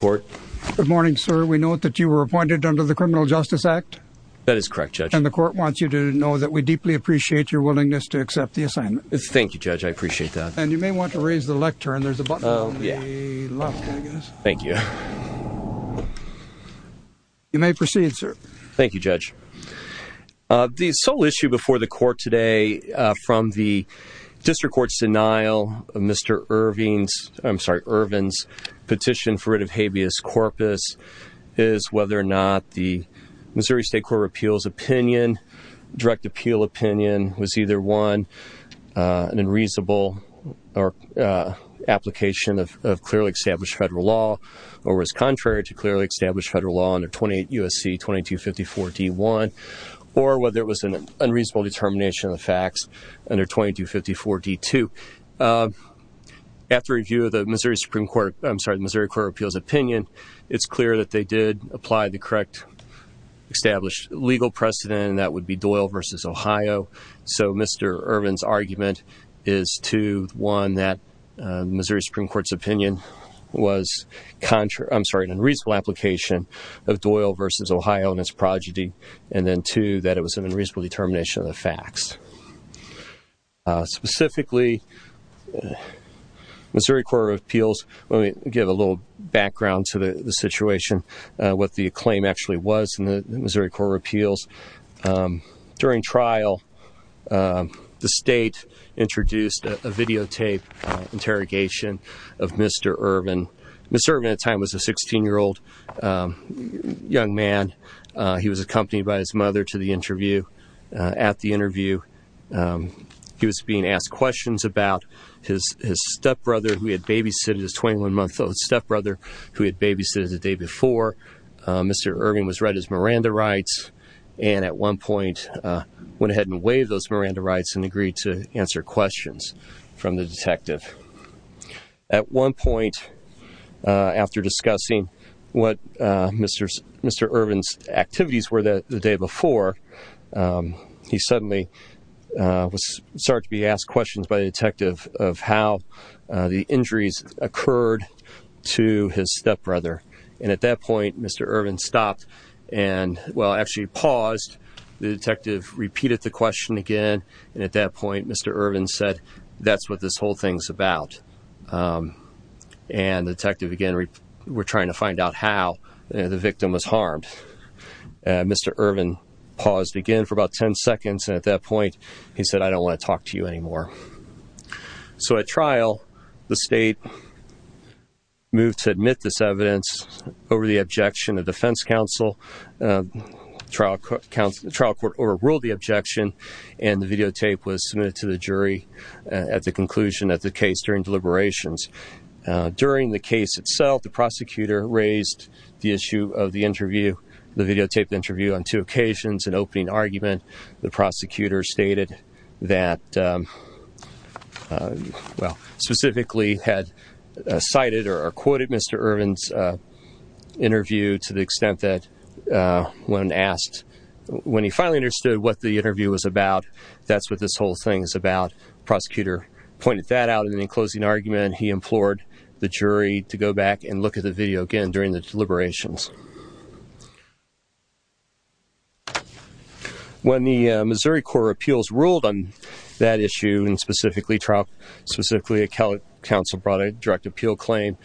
Good morning, sir. We note that you were appointed under the Criminal Justice Act. That is correct, Judge. And the court wants you to know that we deeply appreciate your willingness to accept the assignment. Thank you, Judge. I appreciate that. And you may want to raise the lectern. There's a button on the left, I guess. Thank you. You may proceed, sir. Thank you, Judge. The sole issue before the court today from the District Court's denial of Mr. Ervin's petition for rid of habeas corpus is whether or not the Missouri State Court of Appeals opinion, direct appeal opinion, was either one, an unreasonable application of clearly established federal law or was contrary to clearly established federal law under 28 U.S.C. 2254 D.1 or whether it was an unreasonable determination of the facts under 2254 D.2. After review of the Missouri Supreme Court, I'm sorry, the Missouri Court of Appeals opinion, it's clear that they did apply the correct established legal precedent, and that would be Doyle v. Ohio. So Mr. Ervin's argument is two, one, that Missouri Supreme Court's opinion was an unreasonable application of Doyle v. Ohio and its progeny, and then two, that it was an unreasonable determination of the facts. Specifically, Missouri Court of Appeals, let me give a little background to the situation, what the claim actually was in the Missouri Court of Appeals. During trial, the state introduced a videotape interrogation of Mr. Ervin. Mr. Ervin at the time was a 16-year-old young man. He was accompanied by his mother to the interview. At the interview, he was being asked questions about his stepbrother, who he had babysitted, his 21-month-old stepbrother, who he had babysitted the day before. Mr. Ervin was read his Miranda rights, and at one point went ahead and waived those Miranda rights and agreed to answer questions from the detective. At one point, after discussing what Mr. Ervin's activities were the day before, he suddenly started to be asked questions by the detective of how the injuries occurred to his stepbrother. And at that point, Mr. Ervin stopped and, well, actually paused. The detective repeated the question again, and at that point, Mr. Ervin said, that's what this whole thing's about. And the detective again, we're trying to find out how the victim was harmed. Mr. Ervin paused again for about 10 seconds, and at that point, he said, I don't want to talk to you anymore. So at trial, the state moved to admit this evidence over the objection of defense counsel. The trial court overruled the objection, and the videotape was submitted to the jury at the conclusion of the case during deliberations. During the case itself, the prosecutor raised the issue of the interview, the videotaped interview on two occasions, an opening argument. The prosecutor stated that, well, specifically had cited or quoted Mr. Ervin's interview to the extent that when asked, when he finally understood what the interview was about, that's what this whole thing's about. Prosecutor pointed that out in the closing argument. He implored the jury to go back and look at the video again during the deliberations. When the Missouri Court of Appeals ruled on that issue, and specifically trial, specifically a counsel brought a direct appeal claim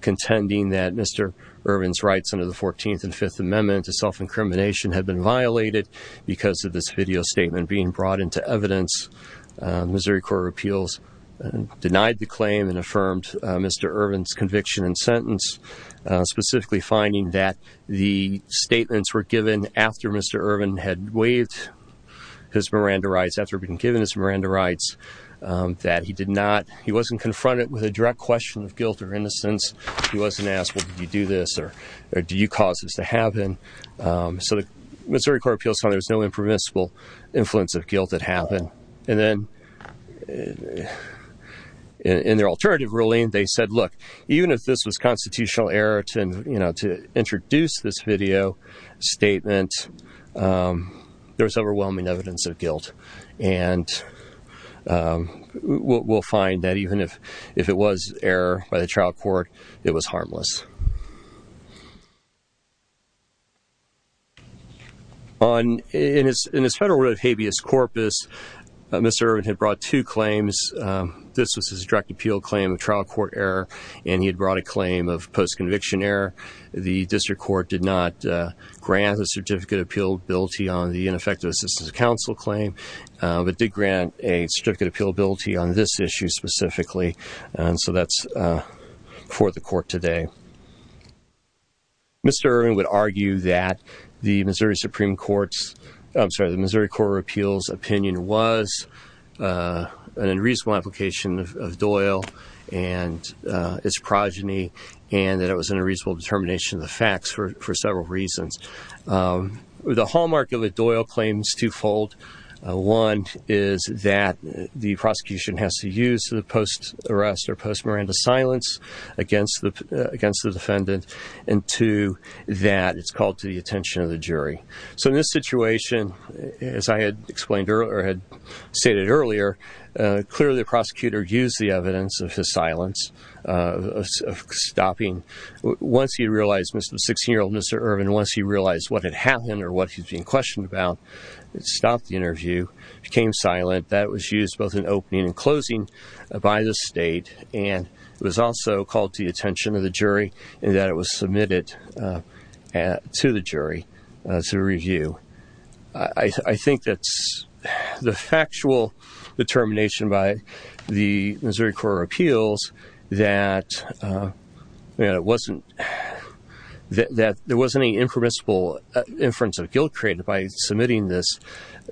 contending that Mr. Ervin's rights under the 14th and Fifth Amendment to self-incrimination had been violated because of this video statement being brought into evidence, Missouri Court of Appeals denied the claim and affirmed Mr. Ervin's conviction and sentence, specifically finding that the statements were given after Mr. Ervin had waived his Miranda rights, after being given his Miranda rights, that he did not, he wasn't confronted with a direct question of guilt or innocence. He wasn't asked, well, did you do this or do you cause this to happen? So the Missouri Court of Appeals found there was no impermissible influence of guilt that happened. And then in their alternative ruling, they said, look, even if this was constitutional error to introduce this video statement, there was overwhelming evidence of guilt. And we'll find that even if it was error by the trial court, it was harmless. In his federal writ of habeas corpus, Mr. Ervin had brought two claims. This was his direct appeal claim of trial court error, and he had brought a claim of post-conviction error. The district court did not grant a certificate of appealability on the ineffective assistance of counsel claim, but did grant a certificate of appealability on this issue specifically. And so that's before the court today. Mr. Ervin would argue that the Missouri Supreme Court's, I'm sorry, an unreasonable application of Doyle and his progeny, and that it was an unreasonable determination of the facts for several reasons. The hallmark of a Doyle claim is twofold. One is that the prosecution has to use the post-arrest or post-miranda silence against the defendant. And two, that it's called to the attention of the jury. So in this situation, as I had explained earlier, or had stated earlier, clearly the prosecutor used the evidence of his silence, of stopping. Once he realized, 16-year-old Mr. Ervin, once he realized what had happened or what he's being questioned about, he stopped the interview, became silent. That was used both in opening and closing by the state, and it was also called to the attention of the jury, and that it was submitted to the jury to review. I think that the factual determination by the Missouri Court of Appeals that there wasn't any impermissible inference of guilt created by submitting this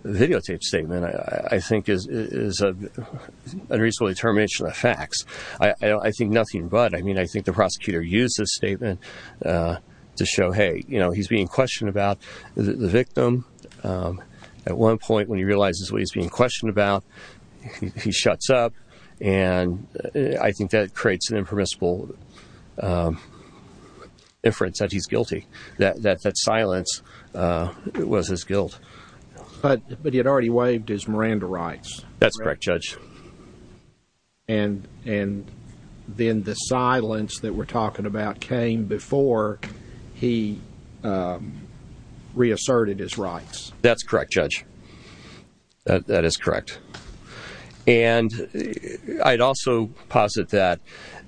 videotape statement, I think is an unreasonable determination of the facts. I think nothing but. I mean, I think the prosecutor used this statement to show, hey, you know, he's being questioned about the victim. At one point, when he realizes what he's being questioned about, he shuts up, and I think that creates an impermissible inference that he's guilty, that silence was his guilt. But he had already waived his Miranda rights. That's correct, Judge. And then the silence that we're talking about came before he reasserted his rights. That's correct, Judge. That is correct. And I'd also posit that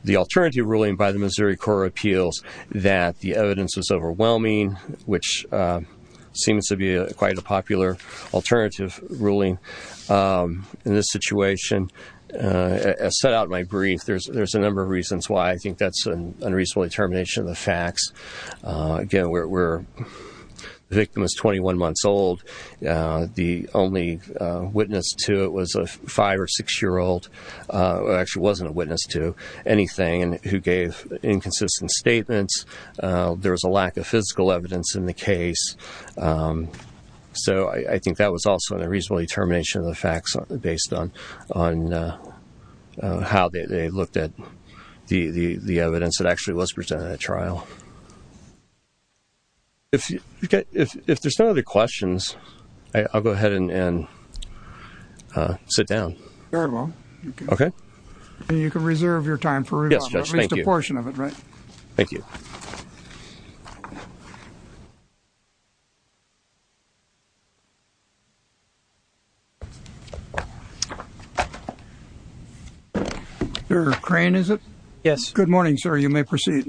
the alternative ruling by the Missouri Court of Appeals, that the evidence was overwhelming, which seems to be quite a popular alternative ruling in this situation, as set out in my brief, there's a number of reasons why I think that's an unreasonable determination of the facts. Again, the victim is 21 months old. The only witness to it was a five- or six-year-old, who actually wasn't a witness to anything and who gave inconsistent statements. There was a lack of physical evidence in the case. So I think that was also an unreasonable determination of the facts based on how they looked at the evidence that actually was presented at trial. If there's no other questions, I'll go ahead and sit down. Very well. Okay. And you can reserve your time for at least a portion of it, right? Yes, Judge, thank you. Thank you. Your crane, is it? Yes. Good morning, sir. You may proceed.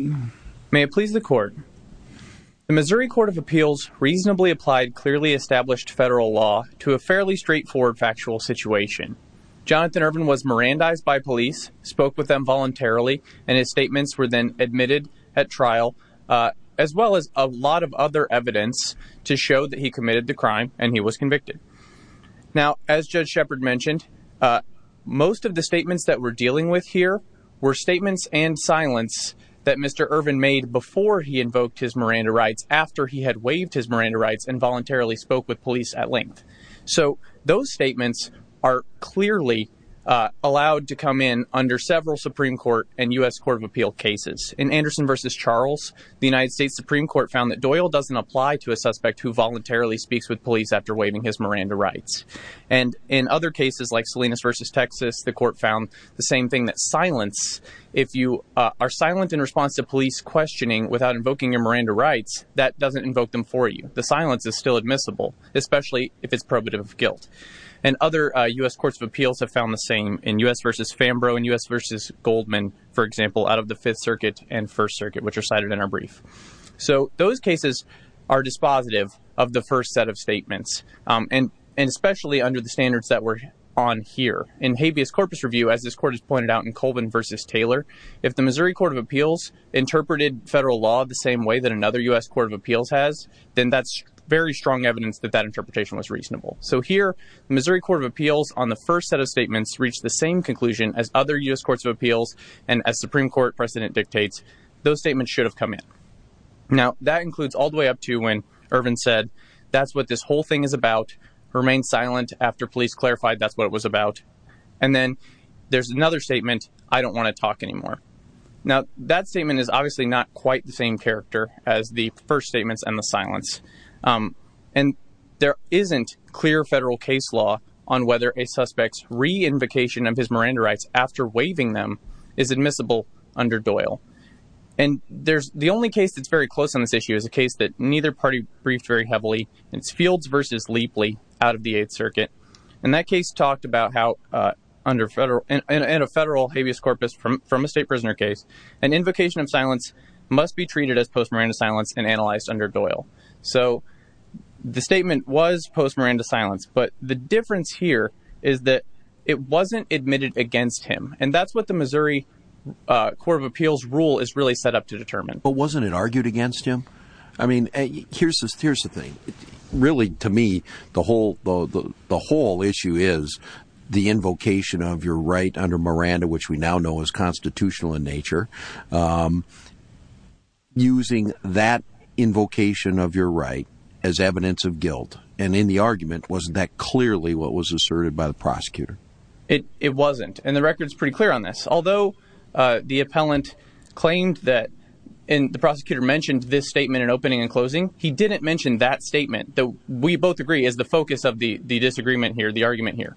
May it please the Court. The Missouri Court of Appeals reasonably applied clearly established federal law to a fairly straightforward factual situation. Jonathan Ervin was Mirandized by police, spoke with them voluntarily, and his statements were then admitted at trial, as well as a lot of other evidence to show that he committed the crime and he was convicted. Now, as Judge Shepard mentioned, most of the statements that we're dealing with here were statements and silence that Mr. Ervin made before he invoked his Miranda rights, after he had waived his Miranda rights and voluntarily spoke with police at length. So those statements are clearly allowed to come in under several Supreme Court and U.S. Court of Appeal cases. In Anderson v. Charles, the United States Supreme Court found that Doyle doesn't apply to a suspect who voluntarily speaks with police after waiving his Miranda rights. And in other cases like Salinas v. Texas, the Court found the same thing, that silence, if you are silent in response to police questioning without invoking your Miranda rights, that doesn't invoke them for you. The silence is still admissible, especially if it's probative of guilt. And other U.S. Courts of Appeals have found the same. In U.S. v. Fambro and U.S. v. Goldman, for example, out of the Fifth Circuit and First Circuit, which are cited in our brief. So those cases are dispositive of the first set of statements, and especially under the standards that we're on here. In habeas corpus review, as this Court has pointed out in Colvin v. Taylor, if the Missouri Court of Appeals interpreted federal law the same way that another U.S. Court of Appeals has, then that's very strong evidence that that interpretation was reasonable. So here, the Missouri Court of Appeals on the first set of statements reached the same conclusion as other U.S. Courts of Appeals and as Supreme Court precedent dictates, those statements should have come in. Now, that includes all the way up to when Ervin said, that's what this whole thing is about, remain silent after police clarified that's what it was about. And then there's another statement, I don't want to talk anymore. Now, that statement is obviously not quite the same character as the first statements and the silence. And there isn't clear federal case law on whether a suspect's re-invocation of his Miranda rights after waiving them is admissible under Doyle. And the only case that's very close on this issue is a case that neither party briefed very heavily. It's Fields v. Leepley out of the Eighth Circuit. And that case talked about how in a federal habeas corpus from a state prisoner case, an invocation of silence must be treated as post-Miranda silence and analyzed under Doyle. So, the statement was post-Miranda silence, but the difference here is that it wasn't admitted against him. And that's what the Missouri Court of Appeals rule is really set up to determine. But wasn't it argued against him? I mean, here's the thing. Really, to me, the whole issue is the invocation of your right under Miranda, which we now know is constitutional in nature, using that invocation of your right as evidence of guilt. And in the argument, wasn't that clearly what was asserted by the prosecutor? It wasn't, and the record's pretty clear on this. Although the appellant claimed that the prosecutor mentioned this statement in opening and closing, he didn't mention that statement, though we both agree is the focus of the disagreement here, the argument here.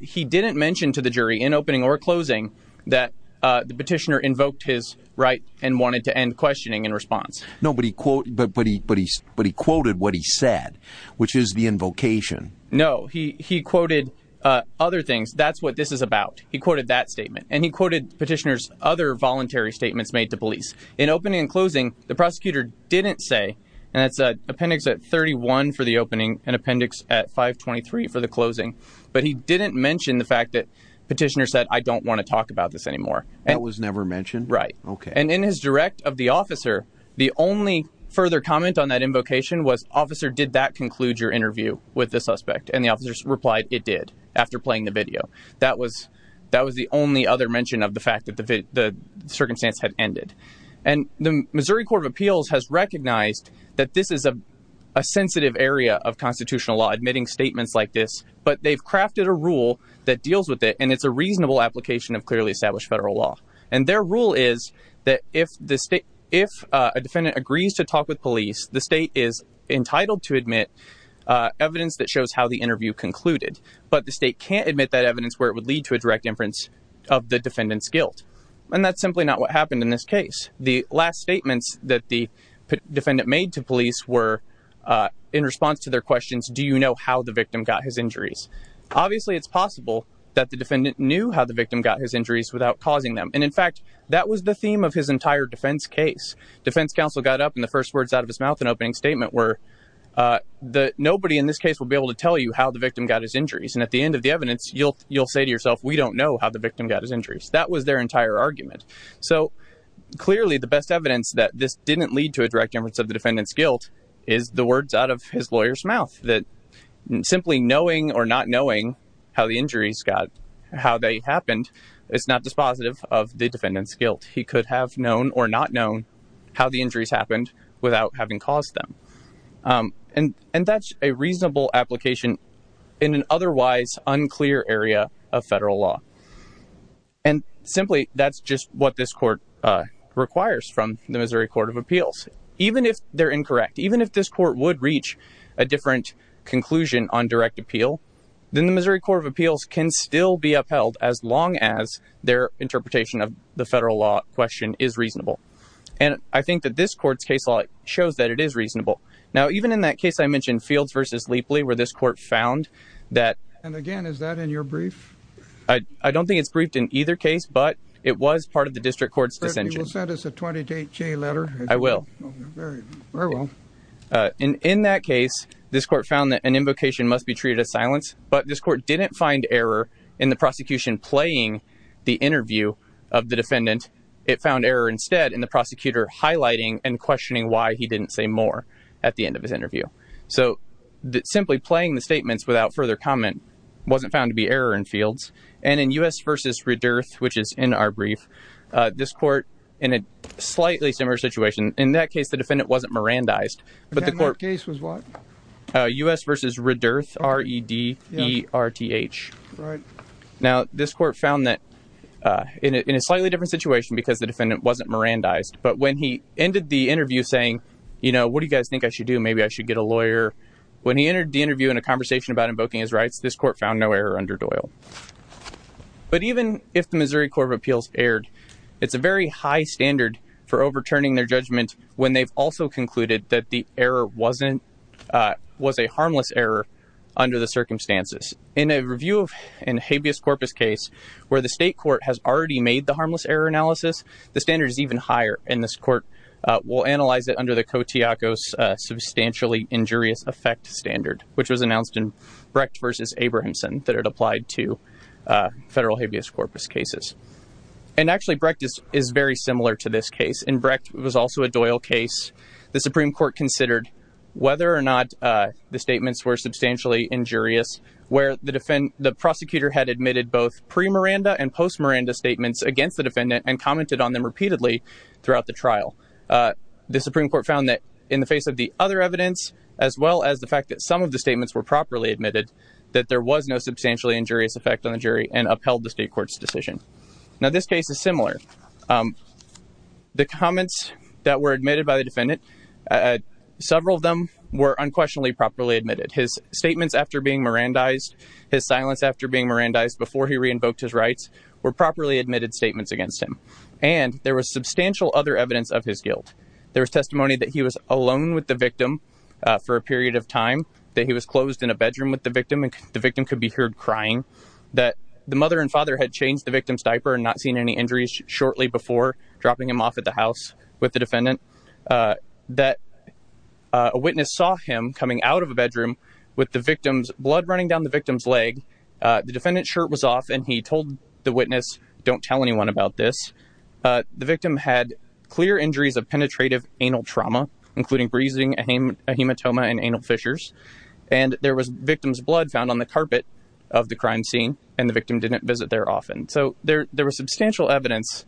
He didn't mention to the jury in opening or closing that the petitioner invoked his right and wanted to end questioning in response. No, but he quoted what he said, which is the invocation. No, he quoted other things. That's what this is about. He quoted that statement, and he quoted petitioner's other voluntary statements made to police. In opening and closing, the prosecutor didn't say, and that's appendix at 31 for the opening and appendix at 523 for the closing, but he didn't mention the fact that petitioner said, I don't want to talk about this anymore. That was never mentioned? Right. And in his direct of the officer, the only further comment on that invocation was, officer, did that conclude your interview with the suspect? And the officer replied, it did, after playing the video. That was the only other mention of the fact that the circumstance had ended. And the Missouri Court of Appeals has recognized that this is a sensitive area of constitutional law, admitting statements like this, but they've crafted a rule that deals with it. And it's a reasonable application of clearly established federal law. And their rule is that if the state, if a defendant agrees to talk with police, the state is entitled to admit evidence that shows how the interview concluded. But the state can't admit that evidence where it would lead to a direct inference of the defendant's guilt. And that's simply not what happened in this case. And the last statements that the defendant made to police were in response to their questions, do you know how the victim got his injuries? Obviously, it's possible that the defendant knew how the victim got his injuries without causing them. And in fact, that was the theme of his entire defense case. Defense counsel got up and the first words out of his mouth and opening statement were, nobody in this case will be able to tell you how the victim got his injuries. And at the end of the evidence, you'll say to yourself, we don't know how the victim got his injuries. That was their entire argument. So clearly the best evidence that this didn't lead to a direct inference of the defendant's guilt is the words out of his lawyer's mouth. That simply knowing or not knowing how the injuries got, how they happened, is not dispositive of the defendant's guilt. He could have known or not known how the injuries happened without having caused them. And that's a reasonable application in an otherwise unclear area of federal law. And simply, that's just what this court requires from the Missouri Court of Appeals. Even if they're incorrect, even if this court would reach a different conclusion on direct appeal, then the Missouri Court of Appeals can still be upheld as long as their interpretation of the federal law question is reasonable. And I think that this court's case law shows that it is reasonable. Now, even in that case I mentioned, Fields v. Leapley, where this court found that... And again, is that in your brief? I don't think it's briefed in either case, but it was part of the district court's dissension. You will send us a 28-J letter? I will. Very well. In that case, this court found that an invocation must be treated as silence, but this court didn't find error in the prosecution playing the interview of the defendant. It found error instead in the prosecutor highlighting and questioning why he didn't say more at the end of his interview. So simply playing the statements without further comment wasn't found to be error in Fields. And in U.S. v. Redearth, which is in our brief, this court, in a slightly similar situation, in that case the defendant wasn't Mirandized, but the court... And that case was what? U.S. v. Redearth, R-E-D-E-R-T-H. Right. Now, this court found that in a slightly different situation because the defendant wasn't Mirandized, but when he ended the interview saying, you know, what do you guys think I should do? Maybe I should get a lawyer. When he entered the interview in a conversation about invoking his rights, this court found no error under Doyle. But even if the Missouri Court of Appeals erred, it's a very high standard for overturning their judgment when they've also concluded that the error was a harmless error under the circumstances. In a review of a habeas corpus case where the state court has already made the harmless error analysis, the standard is even higher, and this court will analyze it under the Kotiakos substantially injurious effect standard, which was announced in Brecht v. Abrahamson that it applied to federal habeas corpus cases. And actually Brecht is very similar to this case. In Brecht, it was also a Doyle case. The Supreme Court considered whether or not the statements were substantially injurious, where the prosecutor had admitted both pre-Miranda and post-Miranda statements against the defendant and commented on them repeatedly throughout the trial. The Supreme Court found that in the face of the other evidence, as well as the fact that some of the statements were properly admitted, that there was no substantially injurious effect on the jury and upheld the state court's decision. Now, this case is similar. The comments that were admitted by the defendant, several of them were unquestionably properly admitted. His statements after being Mirandized, his silence after being Mirandized, before he re-invoked his rights, were properly admitted statements against him. And there was substantial other evidence of his guilt. There was testimony that he was alone with the victim for a period of time, that he was closed in a bedroom with the victim and the victim could be heard crying, that the mother and father had changed the victim's diaper and not seen any injuries shortly before, dropping him off at the house with the defendant, that a witness saw him coming out of a bedroom with the victim's blood running down the victim's leg. The defendant's shirt was off and he told the witness, don't tell anyone about this. The victim had clear injuries of penetrative anal trauma, including breezing, a hematoma and anal fissures. And there was victim's blood found on the carpet of the crime scene and the victim didn't visit there often. So there was substantial evidence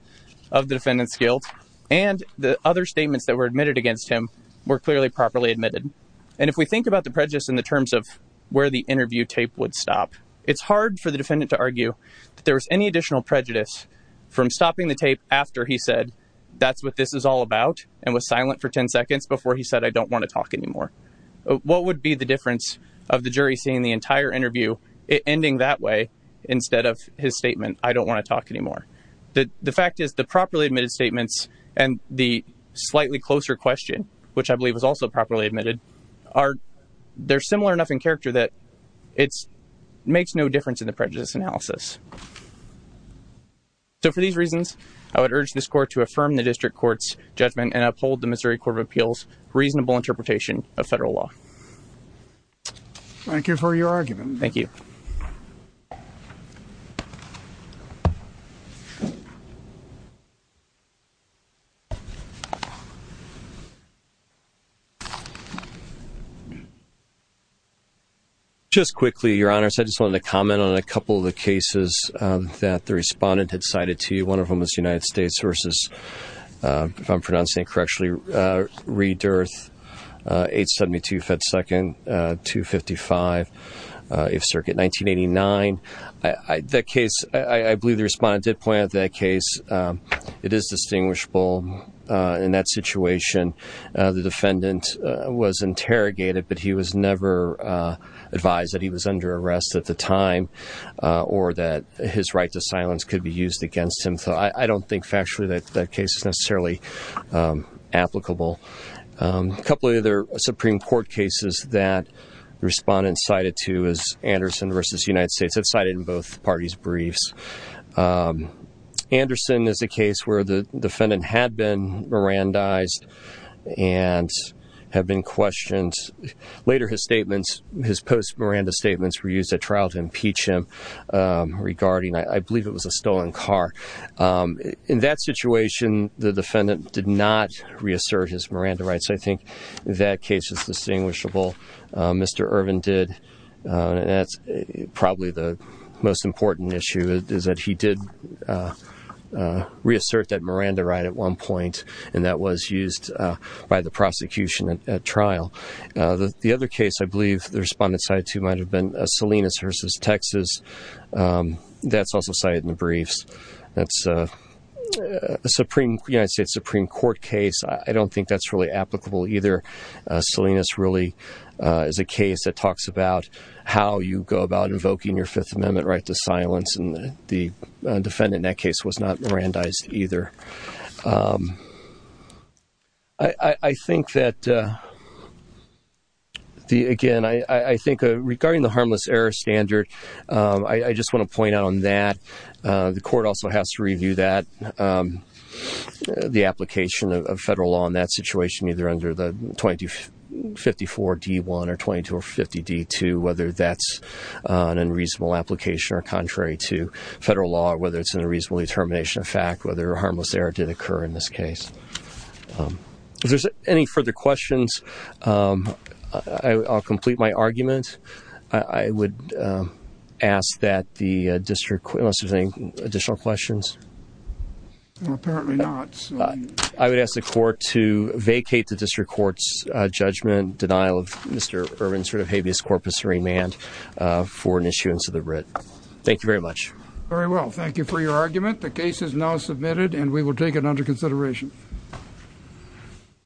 of the defendant's guilt. And the other statements that were admitted against him were clearly properly admitted. And if we think about the prejudice in the terms of where the interview tape would stop, it's hard for the defendant to argue that there was any additional prejudice from stopping the tape after he said, that's what this is all about, and was silent for 10 seconds before he said, I don't want to talk anymore. What would be the difference of the jury seeing the entire interview ending that way instead of his statement, I don't want to talk anymore. The fact is the properly admitted statements and the slightly closer question, which I believe was also properly admitted, they're similar enough in character that it makes no difference in the prejudice analysis. So for these reasons, I would urge this court to affirm the district court's judgment and uphold the Missouri Court of Appeals' reasonable interpretation of federal law. Thank you for your argument. Thank you. Thank you. Just quickly, Your Honor, I just wanted to comment on a couple of the cases that the respondent had cited to you. One of them was the United States versus, if I'm pronouncing it correctly, Redearth, 872 Fed Second, 255 8th Circuit, 1989. That case, I believe the respondent did point out that case. It is distinguishable. In that situation, the defendant was interrogated, but he was never advised that he was under arrest at the time or that his right to silence could be used against him. So I don't think factually that case is necessarily applicable. A couple of other Supreme Court cases that the respondent cited to was Anderson versus United States. That's cited in both parties' briefs. Anderson is a case where the defendant had been Mirandized and had been questioned. Later, his statements, his post-Miranda statements, were used at trial to impeach him regarding, I believe, it was a stolen car. In that situation, the defendant did not reassert his Miranda rights. I think that case is distinguishable. Mr. Irvin did, and that's probably the most important issue, is that he did reassert that Miranda right at one point, and that was used by the prosecution at trial. The other case I believe the respondent cited to might have been Salinas versus Texas. That's also cited in the briefs. That's a United States Supreme Court case. I don't think that's really applicable either. Salinas really is a case that talks about how you go about invoking your Fifth Amendment right to silence, and the defendant in that case was not Mirandized either. I think that, again, I think regarding the harmless error standard, I just want to point out on that, the court also has to review that, the application of federal law in that situation, either under the 2254 D.1 or 2250 D.2, whether that's an unreasonable application or contrary to federal law, whether it's an unreasonable determination of fact, whether a harmless error did occur in this case. If there's any further questions, I'll complete my argument. I would ask that the district, unless there's any additional questions. Apparently not. I would ask the court to vacate the district court's judgment, denial of Mr. Irwin's sort of habeas corpus remand for an issuance of the writ. Thank you very much. Very well. Thank you for your argument. The case is now submitted, and we will take it under consideration.